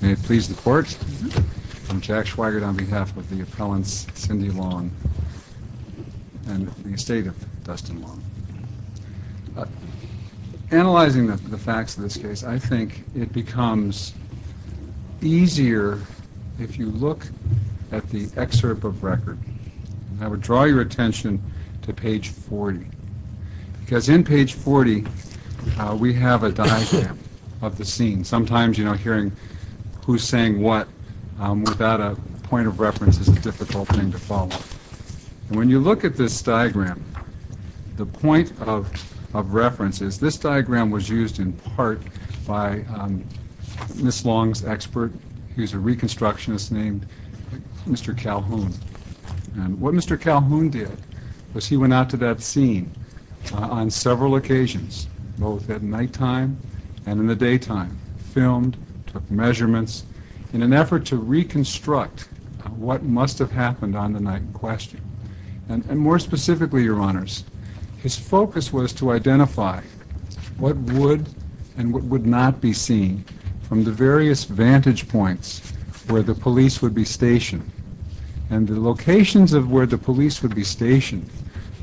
May it please the court, I'm Jack Schweigert on behalf of the appellants Cindy Long and the estate of Dustin Long. Analyzing the facts of this case I think it becomes easier if you look at the excerpt of record. I would draw your attention to page 40 because in page 40 we have a diagram of the scene. Sometimes you know hearing who's saying what without a point of reference is a difficult thing to follow. When you look at this diagram the point of reference is this diagram was used in part by Miss Long's expert. He's a reconstructionist named Mr. Calhoun and what Mr. Calhoun did was he went out to that scene on several occasions, both at nighttime and in the daytime, filmed, took measurements in an effort to reconstruct what must have happened on the night in question. And more specifically your honors, his focus was to identify what would and what would not be seen from the various vantage points where the police would be stationed and the locations of where the police would be stationed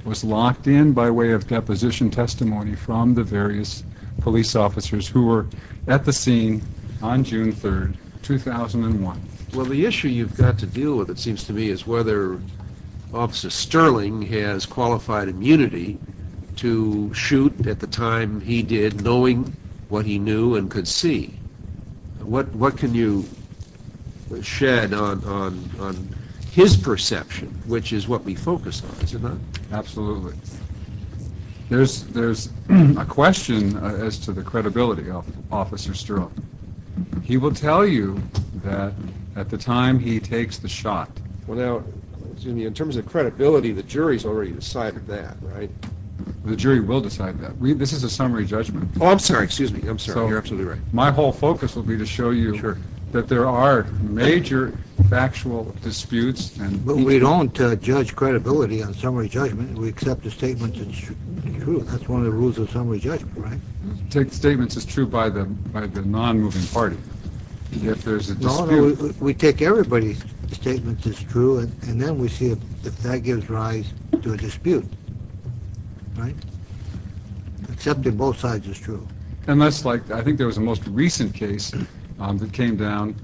was locked in by way of deposition testimony from the various police officers who were at the scene on June 3rd 2001. Well the issue you've got to deal with it seems to me is whether Officer Sterling has qualified immunity to shoot at the time he did knowing what he knew and could see. What what can you shed on his perception which is what we focus on. Absolutely. There's a question as to the credibility of Officer Sterling. He will tell you that at the time he takes the shot. Well now in terms of credibility the jury's already decided that right? The jury will decide that. This is a summary judgment. Oh I'm sorry excuse me. I'm sorry. You're absolutely right. My whole focus will be to show you that there are major factual disputes. But we don't judge credibility on summary judgment. We accept the statement that's true. That's one of the rules of summary judgment right? Take statements as true by the by the non-moving party. We take everybody's statements as true and then we see if that gives rise to a dispute. Right? Accepting both sides is true. And that's like I think there was a most recent case that came down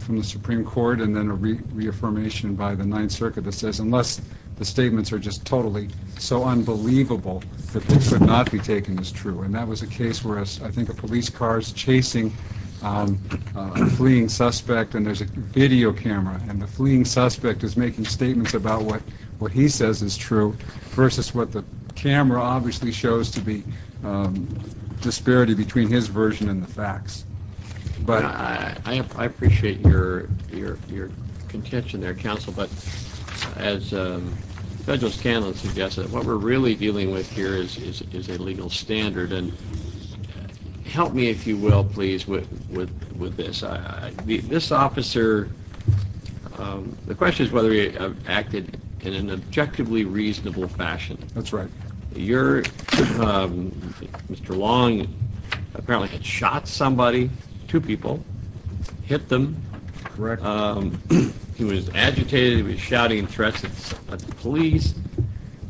from the Supreme Court and then a reaffirmation by the Ninth Circuit that says unless the statements are just totally so unbelievable that they could not be taken as true. And that was a case where I think a police car is chasing a fleeing suspect and there's a video camera and the fleeing suspect is making statements about what what he says is true versus what the camera obviously shows to be disparity between his version and the facts. But I appreciate your your your contention there counsel but as federal scandal suggests that what we're really dealing with here is is a legal standard and help me if you will please with with with this I this officer the question is whether he acted in an objectively reasonable fashion. That's right. Your Mr. Long apparently had shot somebody, two people, hit them. Correct. He was agitated, he was shouting threats at the police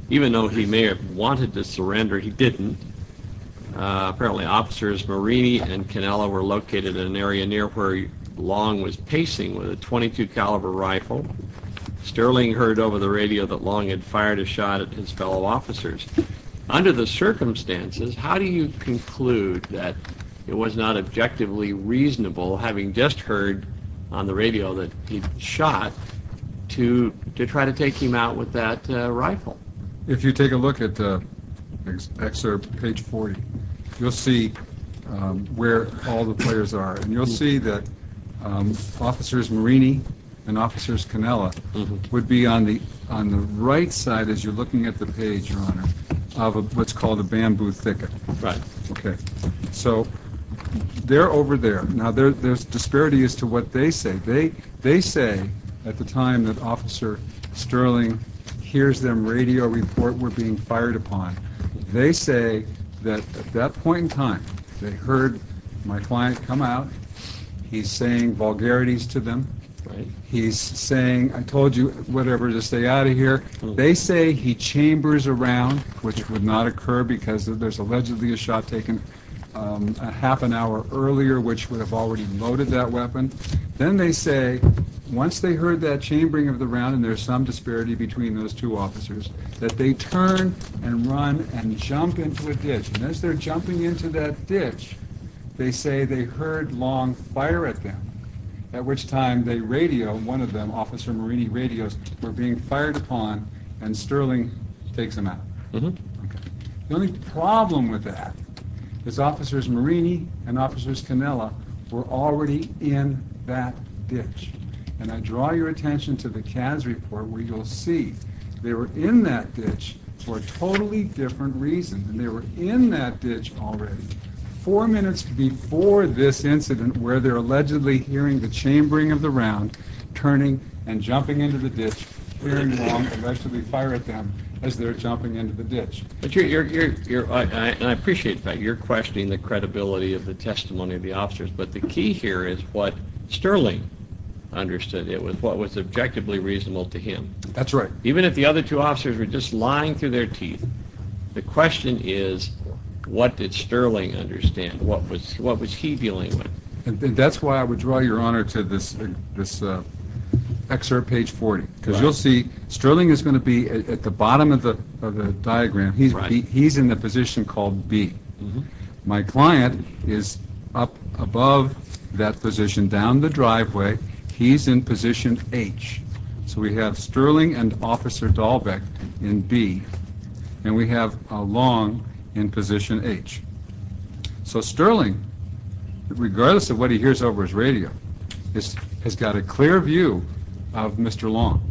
even though he may have wanted to surrender he didn't. Apparently officers Marini and Cannella were located in an area near where Long was pacing with a .22 caliber rifle. Sterling heard over the radio that Long had fired a shot at his fellow officers. Under the circumstances how do you conclude that it was not objectively reasonable having just heard on the radio that he'd shot to to try to take him out with that rifle? If you take a look at the excerpt page 40 you'll see where all the players are and you'll see that officers Marini and officers Cannella would be on the on the right side as you're looking at the page of what's called a bamboo thicket. So they're over there. Now there's disparity as to what they say. They say at the time that officer Sterling hears them radio report we're being fired upon they say that that point in time they heard my client come out he's saying vulgarities to them he's saying I told you whatever to stay out of here they say he chambers around which would not occur because there's allegedly a shot taken a half an hour earlier which would have already loaded that weapon then they say once they heard that chambering of the round and there's some disparity between those two officers that they turn and run and jump into a ditch and as they're jumping into that ditch they say they heard Long fire at them at which time they radio one of officer Marini radios we're being fired upon and Sterling takes them out. The only problem with that is officers Marini and officers Cannella were already in that ditch and I draw your attention to the CADS report where you'll see they were in that ditch for a totally different reason and they were in that ditch already four minutes before this incident where they're allegedly hearing the chambering of the round turning and jumping into the ditch hearing Long allegedly fire at them as they're jumping into the ditch. I appreciate that you're questioning the credibility of the testimony of the officers but the key here is what Sterling understood it was what was objectively reasonable to him. That's right. Even if the other two officers were just lying through their teeth the question is what did Sterling understand what was what was he dealing with? That's why I would draw your honor to this this excerpt page 40 because you'll see Sterling is going to be at the bottom of the diagram he's right he's in the position called B my client is up above that position down the driveway he's in position H so we have and officer Dahlbeck in B and we have Long in position H so Sterling regardless of what he hears over his radio this has got a clear view of Mr. Long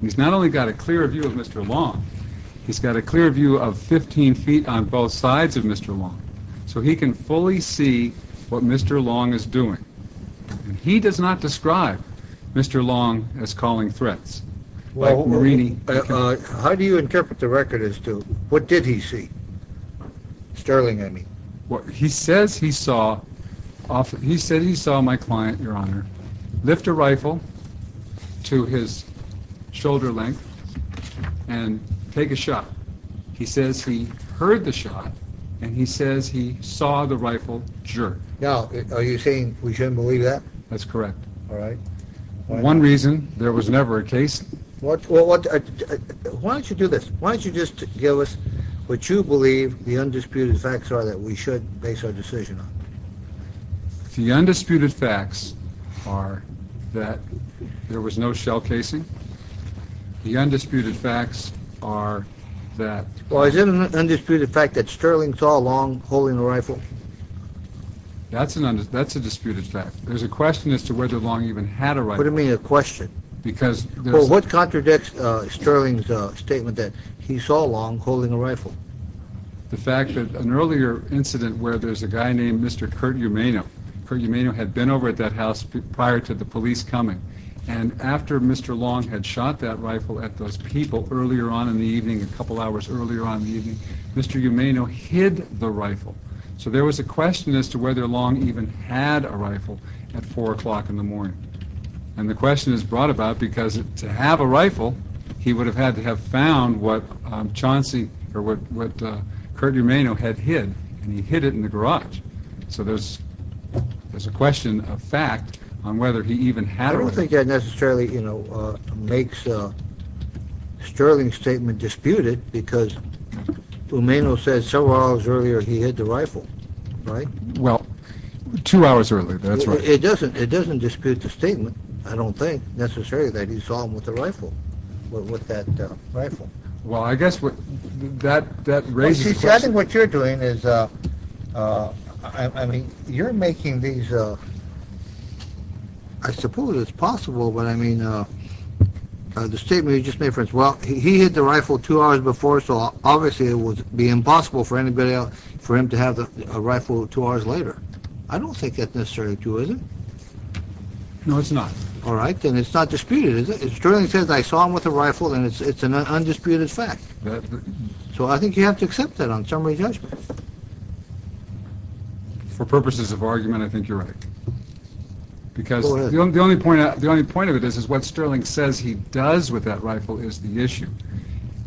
he's not only got a clear view of Mr. Long he's got a clear view of 15 feet on both sides of Mr. Long so he can fully see what Mr. Long is doing and he does not describe Mr. Long as calling threats. Well how do you interpret the record as to what did he see? Sterling I mean. Well he says he saw off he said he saw my client your honor lift a rifle to his shoulder length and take a shot he says he heard the shot and he says he saw the rifle jerk. Now are you saying we shouldn't believe that? That's correct. All right. One reason there was never a case. What why don't you do this why don't you just give us what you believe the undisputed facts are that we should base our decision on. The undisputed facts are that there was no shell casing the undisputed facts are that. Well is it an undisputed fact that Sterling saw Long holding a rifle? That's an undisputed fact. There's a question as to whether Long even had a rifle. What do you mean a question? Because. Well what contradicts Sterling's statement that he saw Long holding a rifle? The fact that an earlier incident where there's a guy named Mr. Kurt Umano. Kurt Umano had been over at that house prior to the police coming and after Mr. Long had shot that rifle at those people earlier on in the evening a couple hours earlier on the evening Mr. Umano hid the rifle so there was a question as to whether Long even had a rifle at four o'clock in the morning and the question is brought about because to have a rifle he would have had to have found what Chauncey or what what Kurt Umano had hid and he hid it in the garage so there's there's a question of fact on whether he even had. I don't think that necessarily you know makes Sterling's statement disputed because Umano said several hours earlier he hid the rifle right? Well two hours earlier that's right. It doesn't it doesn't dispute the statement I don't think necessarily that he saw him with the rifle with that rifle. Well I guess what that raises. See I think what you're doing is I mean you're making these I suppose it's possible but I mean the statement you just made for us well he hid the rifle two hours before so obviously it would be impossible for anybody else for him to have a rifle two hours later. I don't think that's necessary too is it? No it's not. All right then it's not disputed is it? Sterling says I saw him with a rifle and it's an undisputed fact so I think you have to accept that on summary judgment. For purposes of argument I think you're right because the only point the only point of it is is what Sterling says he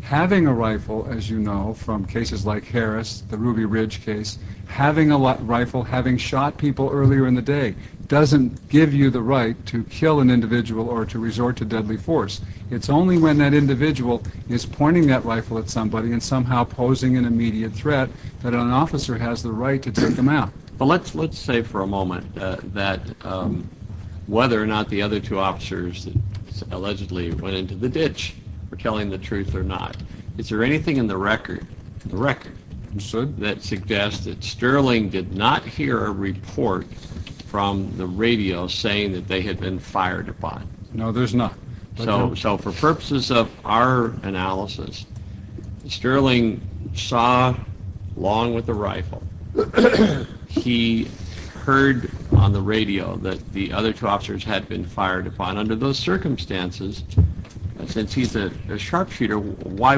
having a rifle as you know from cases like Harris the Ruby Ridge case having a lot rifle having shot people earlier in the day doesn't give you the right to kill an individual or to resort to deadly force. It's only when that individual is pointing that rifle at somebody and somehow posing an immediate threat that an officer has the right to take them out. But let's let's say for a moment that whether or not the other two officers that allegedly went into the is there anything in the record the record that suggests that Sterling did not hear a report from the radio saying that they had been fired upon? No there's not. So for purposes of our analysis Sterling saw along with the rifle he heard on the radio that the other two officers had been fired upon under those Why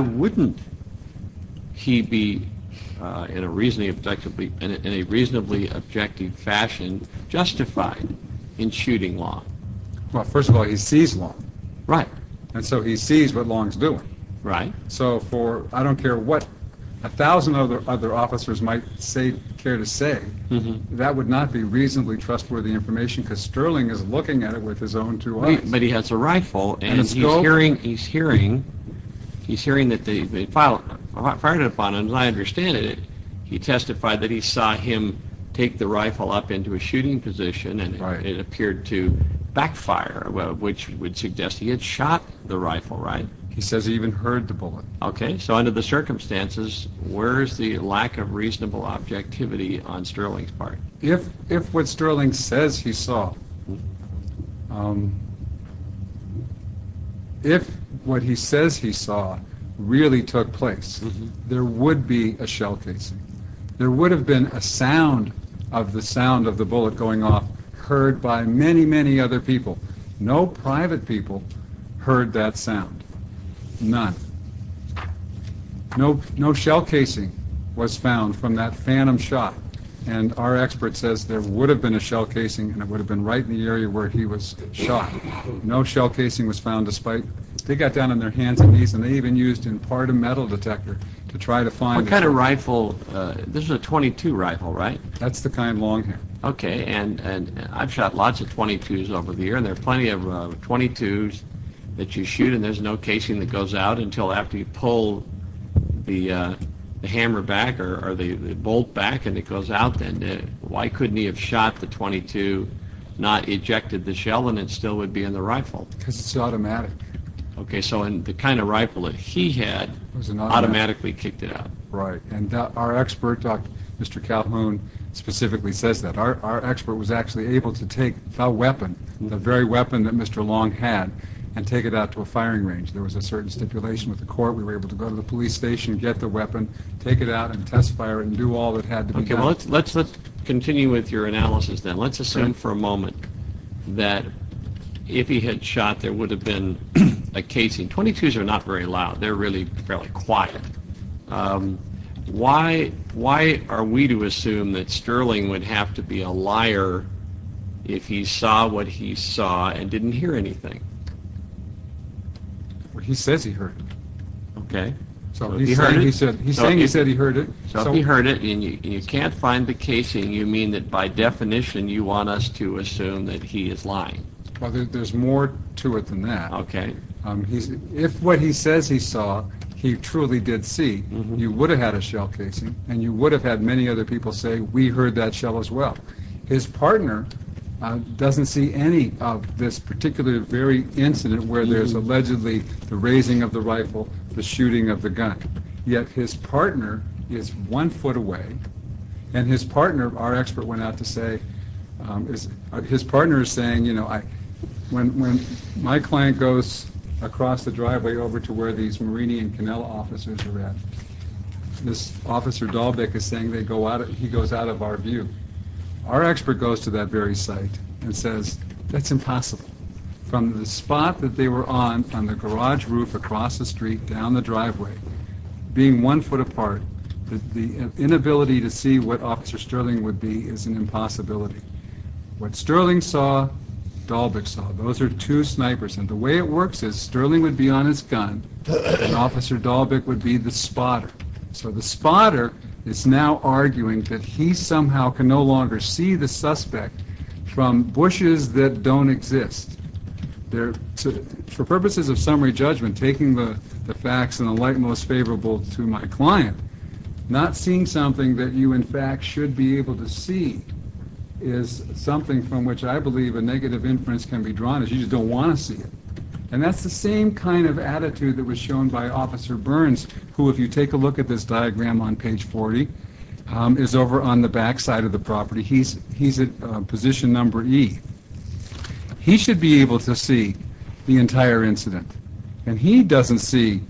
wouldn't he be in a reasonably objectively in a reasonably objective fashion justified in shooting Long? Well first of all he sees Long. Right. And so he sees what Long's doing. Right. So for I don't care what a thousand other other officers might say care to say that would not be reasonably trustworthy information because Sterling is looking at it with his own two eyes. But he has a hearing he's hearing that they fired upon him and I understand it he testified that he saw him take the rifle up into a shooting position and it appeared to backfire which would suggest he had shot the rifle right? He says he even heard the bullet. Okay so under the circumstances where's the lack of reasonable objectivity on Sterling's part? If if what Sterling says he saw if what he says he saw really took place there would be a shell case. There would have been a sound of the sound of the bullet going off heard by many many other people. No private people heard that sound. None. No no shell casing was found from that phantom shot and our expert says there would have been a shell casing and it would have been right in the area where he was shot. No shell casing was found despite they got down on their hands and knees and they even used in part a metal detector to try to find what kind of rifle this is a 22 rifle right? That's the kind long here. Okay and and I've shot lots of 22s over the year and there are plenty of 22s that you shoot and there's no casing that goes out until after you pull the hammer back or the bolt back and it goes out then why couldn't he have shot the 22 not ejected the shell and it still would be in the rifle. Because it's automatic. Okay so and the kind of rifle that he had was an automatically kicked it out. Right and our expert Dr. Mr. Calhoun specifically says that our expert was actually able to take the weapon the very weapon that Mr. Long had and take it out to a firing range. There was a certain stipulation with the court we were able to go to the police station get the weapon take it out and test fire and do all that had to be done. Okay well let's let's let's continue with your analysis then let's assume for a moment that if he had shot there would have been a casing. 22s are not very loud they're really fairly quiet. Why why are we to assume that Sterling would have to be a liar if he saw what he saw and didn't hear anything? Well he says he heard it. Okay. So he heard it and you can't find the casing you mean that by definition you want us to assume that he is lying. Well there's more to it than that. Okay. He's if what he says he saw he truly did see you would have had a shell casing and you would have had many other people say we heard that shell as well. His partner doesn't see any of this particular very incident where there's allegedly the raising of the rifle the shooting of the went out to say is his partner is saying you know I when my client goes across the driveway over to where these Marini and Canela officers are at this officer Dahlbeck is saying they go out he goes out of our view our expert goes to that very site and says that's impossible from the spot that they were on from the garage roof across the street down the driveway being one foot apart that the inability to see what officer Sterling would be is an impossibility what Sterling saw Dahlbeck saw those are two snipers and the way it works is Sterling would be on his gun and officer Dahlbeck would be the spotter so the spotter is now arguing that he somehow can no longer see the suspect from bushes that don't exist there for purposes of summary judgment taking the facts and the light most favorable to my client not seeing something that you in fact should be able to see is something from which I believe a negative inference can be drawn as you just don't want to see it and that's the same kind of attitude that was shown by officer Burns who if you take a look at this diagram on page 40 is over on the backside of the property he's he's at position number E he should be able to see the entire incident and he doesn't see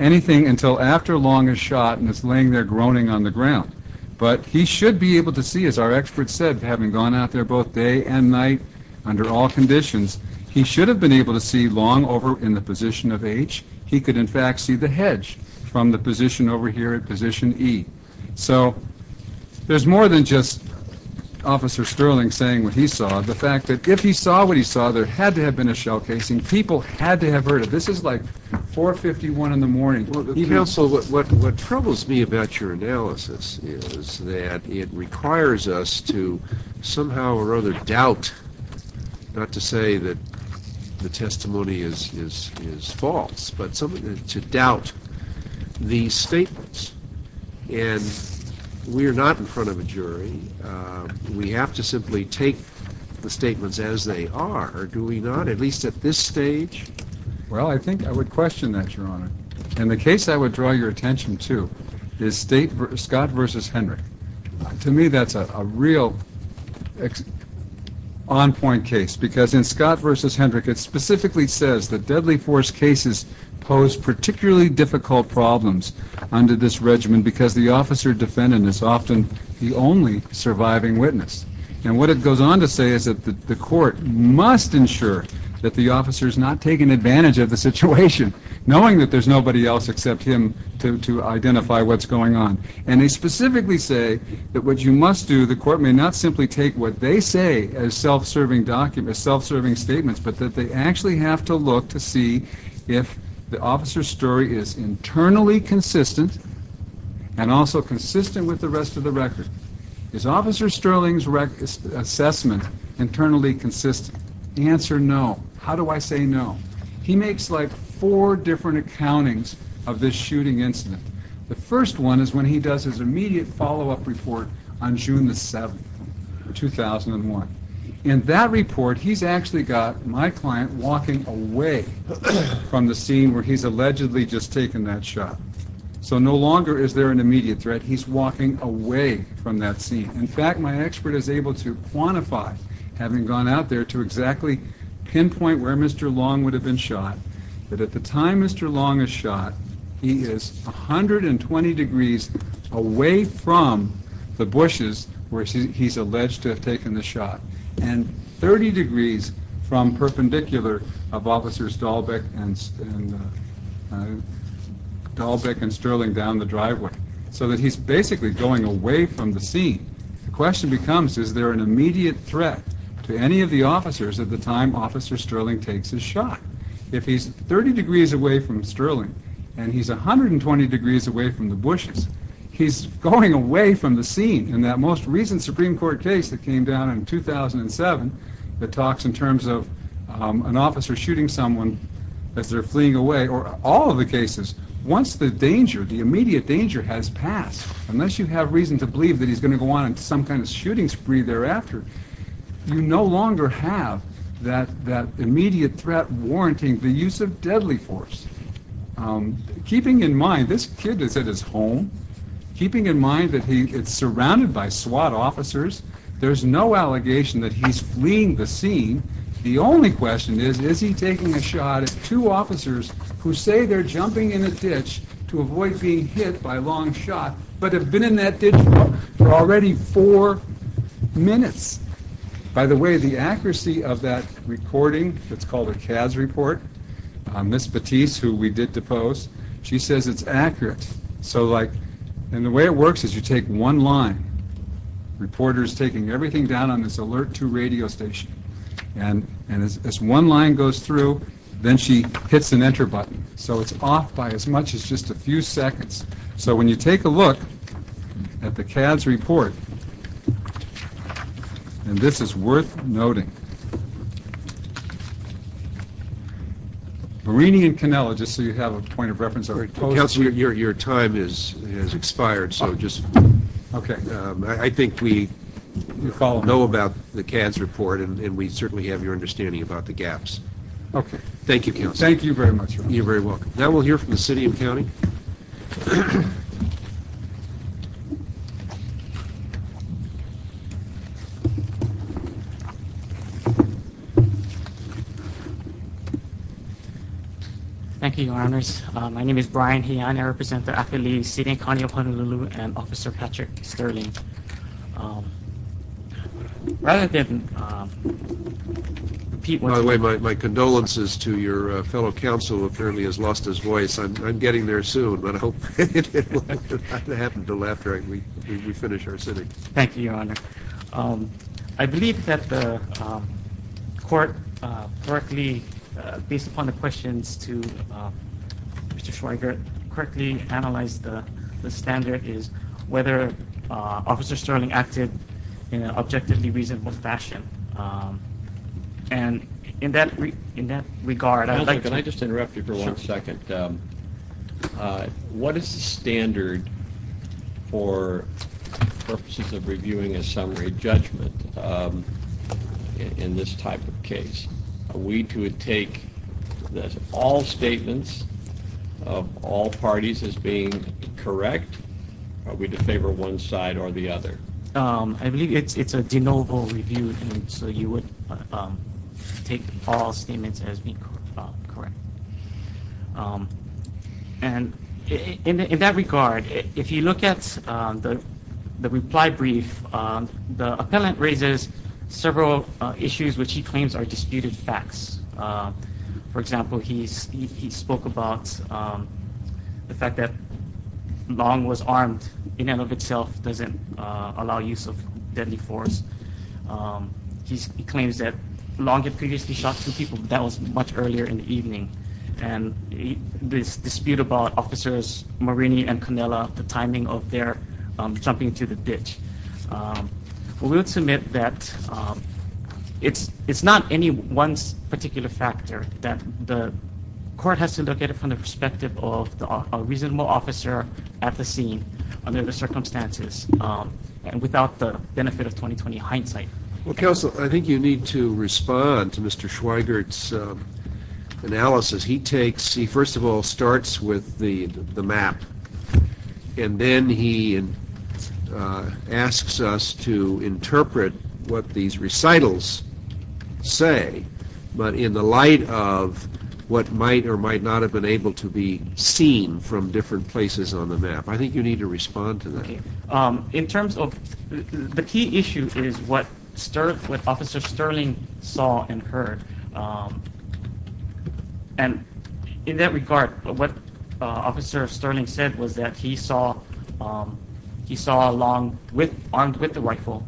anything until after long as shot and is laying there groaning on the ground but he should be able to see as our experts said having gone out there both day and night under all conditions he should have been able to see long over in the position of H he could in fact see the hedge from the position over here at position E so there's more than just officer Sterling saying what he saw the fact that if he saw what he saw there had to have been a shell casing people had to have heard of this is like 451 in the morning you know so what troubles me about your analysis is that it requires us to somehow or other doubt not to say that the testimony is false but something to doubt these statements and we are not in front of a jury we have to simply take the statements as they are doing not at least at this stage well I think I would question that your honor and the case I would draw your attention to is state Scott versus Henry to me that's a real on-point case because in Scott versus Hendrick it specifically says that deadly force cases pose particularly difficult problems under this regimen because the and what it goes on to say is that the court must ensure that the officers not taken advantage of the situation knowing that there's nobody else except him to identify what's going on and they specifically say that what you must do the court may not simply take what they say as self-serving documents self-serving statements but that they actually have to look to see if the officer story is internally consistent and also consistent with the rest of the assessment internally consistent the answer no how do I say no he makes like four different accountings of this shooting incident the first one is when he does his immediate follow-up report on June the 7th 2001 in that report he's actually got my client walking away from the scene where he's allegedly just taken that shot so no longer is there an immediate threat he's walking away from that scene in fact my expert is able to quantify having gone out there to exactly pinpoint where mr. long would have been shot but at the time mr. long is shot he is a hundred and twenty degrees away from the bushes where he's alleged to have taken the shot and 30 degrees from perpendicular of officers Dalbeck and Dalbeck and Sterling down the driveway so that he's basically going away from the scene the question becomes is there an immediate threat to any of the officers at the time officer sterling takes his shot if he's 30 degrees away from sterling and he's a hundred and twenty degrees away from the bushes he's going away from the scene and that most recent Supreme Court case that came down in 2007 that talks in terms of an officer shooting someone as they're fleeing away or all of the cases once the danger the immediate danger has passed unless you have reason to believe that he's going to go on and some kind of shooting spree thereafter you no longer have that that immediate threat warranting the use of deadly force keeping in mind this kid is at his home keeping in mind that he it's surrounded by SWAT officers there's no allegation that he's fleeing the scene the only question is is he taking a shot at two officers who say they're jumping in a ditch to avoid being hit by long shot but have been in that ditch for already four minutes by the way the accuracy of that recording it's called a cad's report on this batiste who we did depose she says it's accurate so like and the way it works is you take one line reporters taking everything down on this alert to radio station and and as one line goes through then she hits an enter button so it's off by as much as just a few seconds so when you take a look at the cad's report and this is worth noting reading and canella just so you have a point of reference to your time is expired so just okay I think we all know about the kids report and we certainly have your understanding about the gaps okay thank you thank you very much you are very welcome now we'll hear from the city and county thank you your honors my name is Brian he and I represent the athlete sitting Connie upon a little and officer Patrick Sterling rather than people my condolences to your fellow council apparently has lost his voice I'm getting there soon but I hope to happen to laugh very we finish our city thank you your honor I believe that the court Berkeley based upon the questions to mr. Schweiger quickly analyze the standard is whether officer sterling acted in an objectively reasonable fashion and in that we in that regard I can I just interrupt you for one second what is the standard for purposes of reviewing a summary judgment in this type of case we could take this all statements of all parties as being correct are we to favor one side or the other I believe it's a de novo review so you would take all statements as being correct and in that regard if you look at the the reply brief the appellant raises several issues which he long was armed in and of itself doesn't allow use of deadly force he claims that long had previously shot two people that was much earlier in the evening and this dispute about officers Marini and Canela the timing of their jumping into the ditch we would submit that it's it's not any one particular factor that the court has to look at it from the perspective of a reasonable officer at the scene under the circumstances and without the benefit of 2020 hindsight well counsel I think you need to respond to mr. Schweiger it's analysis he takes he first of all starts with the the map and then he asks us to interpret what these not have been able to be seen from different places on the map I think you need to respond to that in terms of the key issue is what start with officer Sterling saw and heard and in that regard but what officer Sterling said was that he saw he saw along with armed with the rifle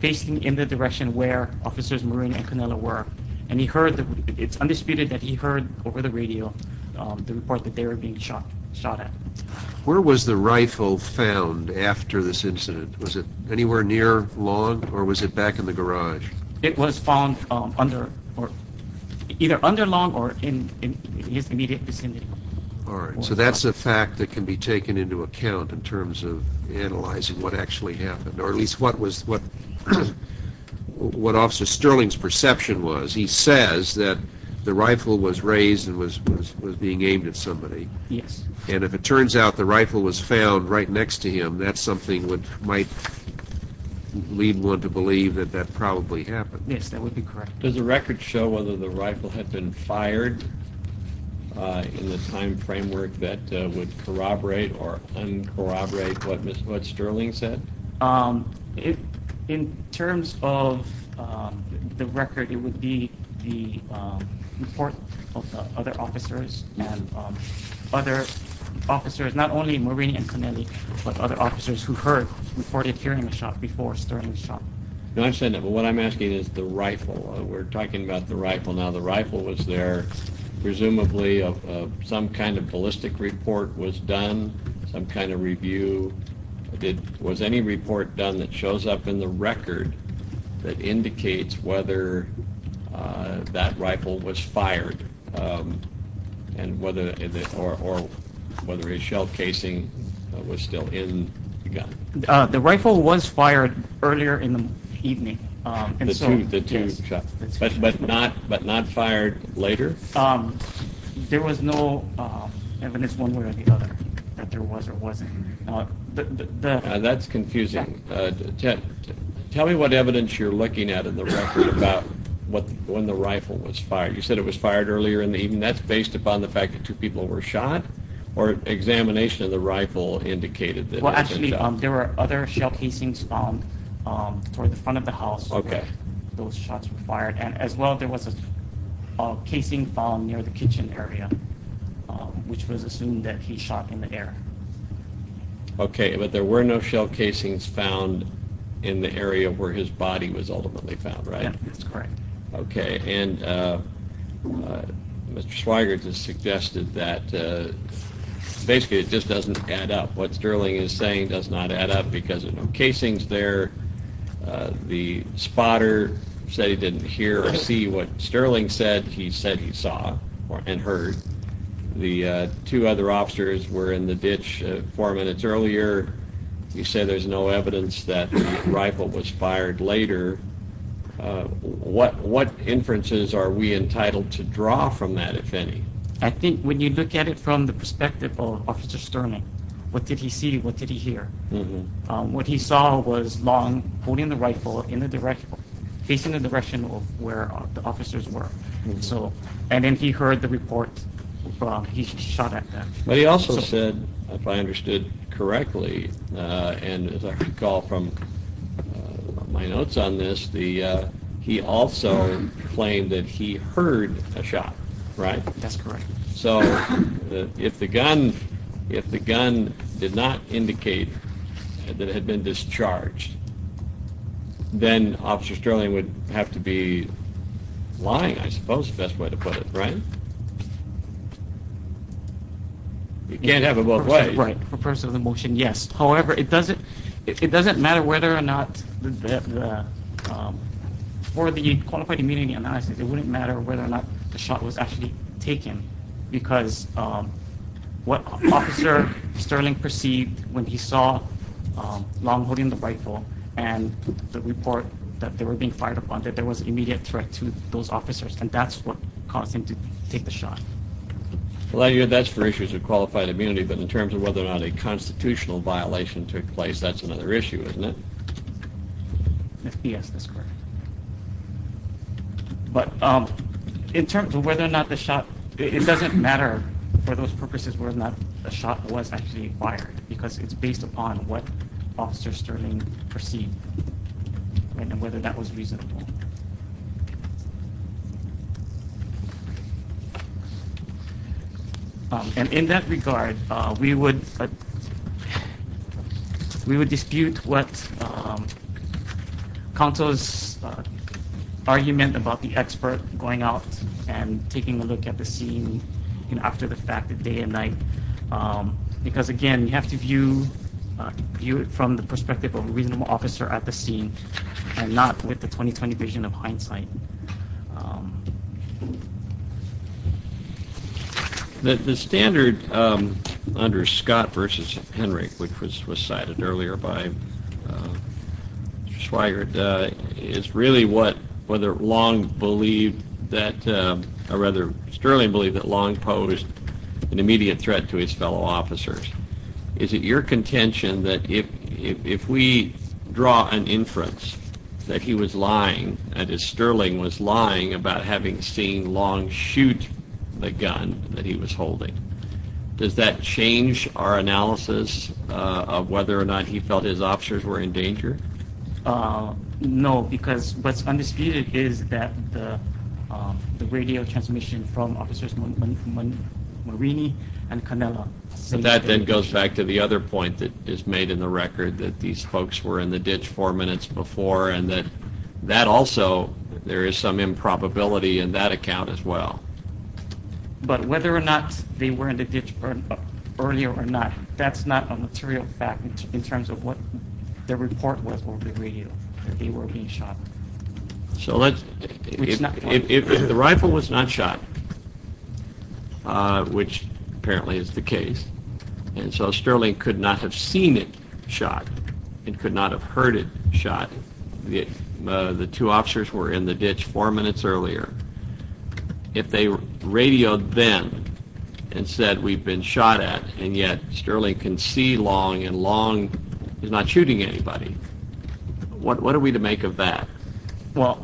facing in the direction where officers Marine and Canela were and he heard that it's undisputed that he heard over the radio the report that they were being shot shot at where was the rifle found after this incident was it anywhere near long or was it back in the garage it was found under or either under long or in his immediate vicinity all right so that's the fact that can be taken into account in terms of analyzing what actually happened or at least what was what what officer Sterling's says that the rifle was raised and was being aimed at somebody yes and if it turns out the rifle was found right next to him that's something would might lead one to believe that that probably happened yes that would be correct does the record show whether the rifle had been fired in the time framework that would corroborate or corroborate what mr. what Sterling said if in terms of the report of other officers and other officers not only marine and Caneli but other officers who heard reported hearing a shot before Sterling shot no I'm saying that but what I'm asking is the rifle we're talking about the rifle now the rifle was there presumably of some kind of ballistic report was done some kind of review did was any report done that shows up in the record that rifle was fired and whether or whether a shell casing was still in the gun the rifle was fired earlier in the evening but but not but not fired later there was no evidence one way or the other that there was or wasn't that's confusing tell me what evidence you're looking at in the record about what when the rifle was fired you said it was fired earlier in the evening that's based upon the fact that two people were shot or examination of the rifle indicated that well actually there were other shell casings found toward the front of the house okay those shots were fired and as well there was a casing found near the kitchen area which was assumed that he shot in the air okay but there were no shell casings found in the area where his body was ultimately found okay and Mr. Swigert has suggested that basically it just doesn't add up what Sterling is saying does not add up because of no casings there the spotter said he didn't hear or see what Sterling said he said he saw or and heard the two other officers were in the ditch four minutes earlier you say there's no what what inferences are we entitled to draw from that if any I think when you look at it from the perspective of officer Sterling what did he see what did he hear what he saw was long holding the rifle in the direction facing the direction of where the officers were so and then he heard the report he shot at that but he also said if I understood correctly and as I recall from my notes on this the he also claimed that he heard a shot right that's correct so if the gun if the gun did not indicate that had been discharged then officer Sterling would have to be lying I suppose best way to put it right you can't have it both ways right for person of the motion yes however it doesn't it for the qualified immunity analysis it wouldn't matter whether or not the shot was actually taken because what officer Sterling perceived when he saw long holding the rifle and the report that they were being fired upon that there was an immediate threat to those officers and that's what caused him to take the shot well I hear that's for issues of qualified immunity but in terms of whether or not a constitutional violation took place that's another issue isn't it yes that's correct but in terms of whether or not the shot it doesn't matter for those purposes were not a shot was actually fired because it's based upon what officer Sterling perceived and whether that was and in that regard we would we would dispute what counsel's argument about the expert going out and taking a look at the scene and after the fact that day and night because again you have to view view it from the perspective of a 20-20 vision of hindsight that the standard under Scott versus Henry which was was cited earlier by swaggered is really what whether long believed that a rather sterling believe that long posed an immediate threat to his fellow is it your contention that if we draw an inference that he was lying and his sterling was lying about having seen long shoot the gun that he was holding does that change our analysis of whether or not he felt his officers were in danger no because what's undisputed is that the radio transmission from that then goes back to the other point that is made in the record that these folks were in the ditch four minutes before and that that also there is some improbability in that account as well but whether or not they were in the ditch earlier or not that's not a material fact in terms of what their report was over the radio they were being shot so let's if the rifle was not which apparently is the case and so sterling could not have seen it shot it could not have heard it shot the two officers were in the ditch four minutes earlier if they radioed them and said we've been shot at and yet sterling can see long and long is not shooting anybody what are we to make of that well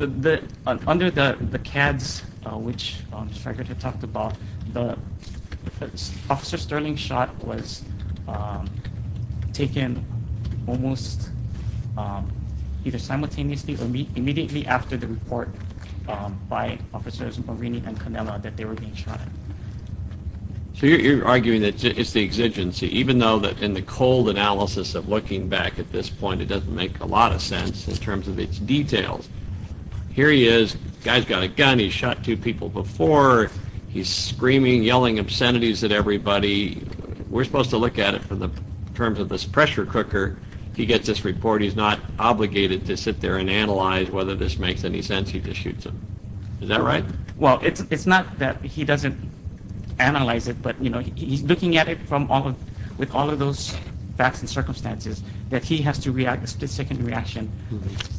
under the the CADS which striker to talked about the officer sterling shot was taken almost either simultaneously or meet immediately after the report by officers Marini and Canella that they were being shot so you're arguing that it's the exigency even though that in the cold analysis of looking back at this point it doesn't make a lot of sense in terms of its details here he is guys got a gun he shot two people before he's screaming yelling obscenities that everybody we're supposed to look at it for the terms of this pressure cooker he gets this report he's not obligated to sit there and analyze whether this makes any sense he just shoots him is that right well it's not that he doesn't analyze it but you know he's looking at it from all with all of those facts and to react to second reaction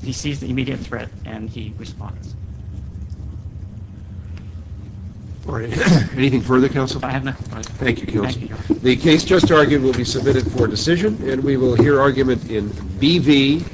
he sees the immediate threat and he responds anything further counsel I have nothing thank you the case just argued will be submitted for decision and we will hear argument in BV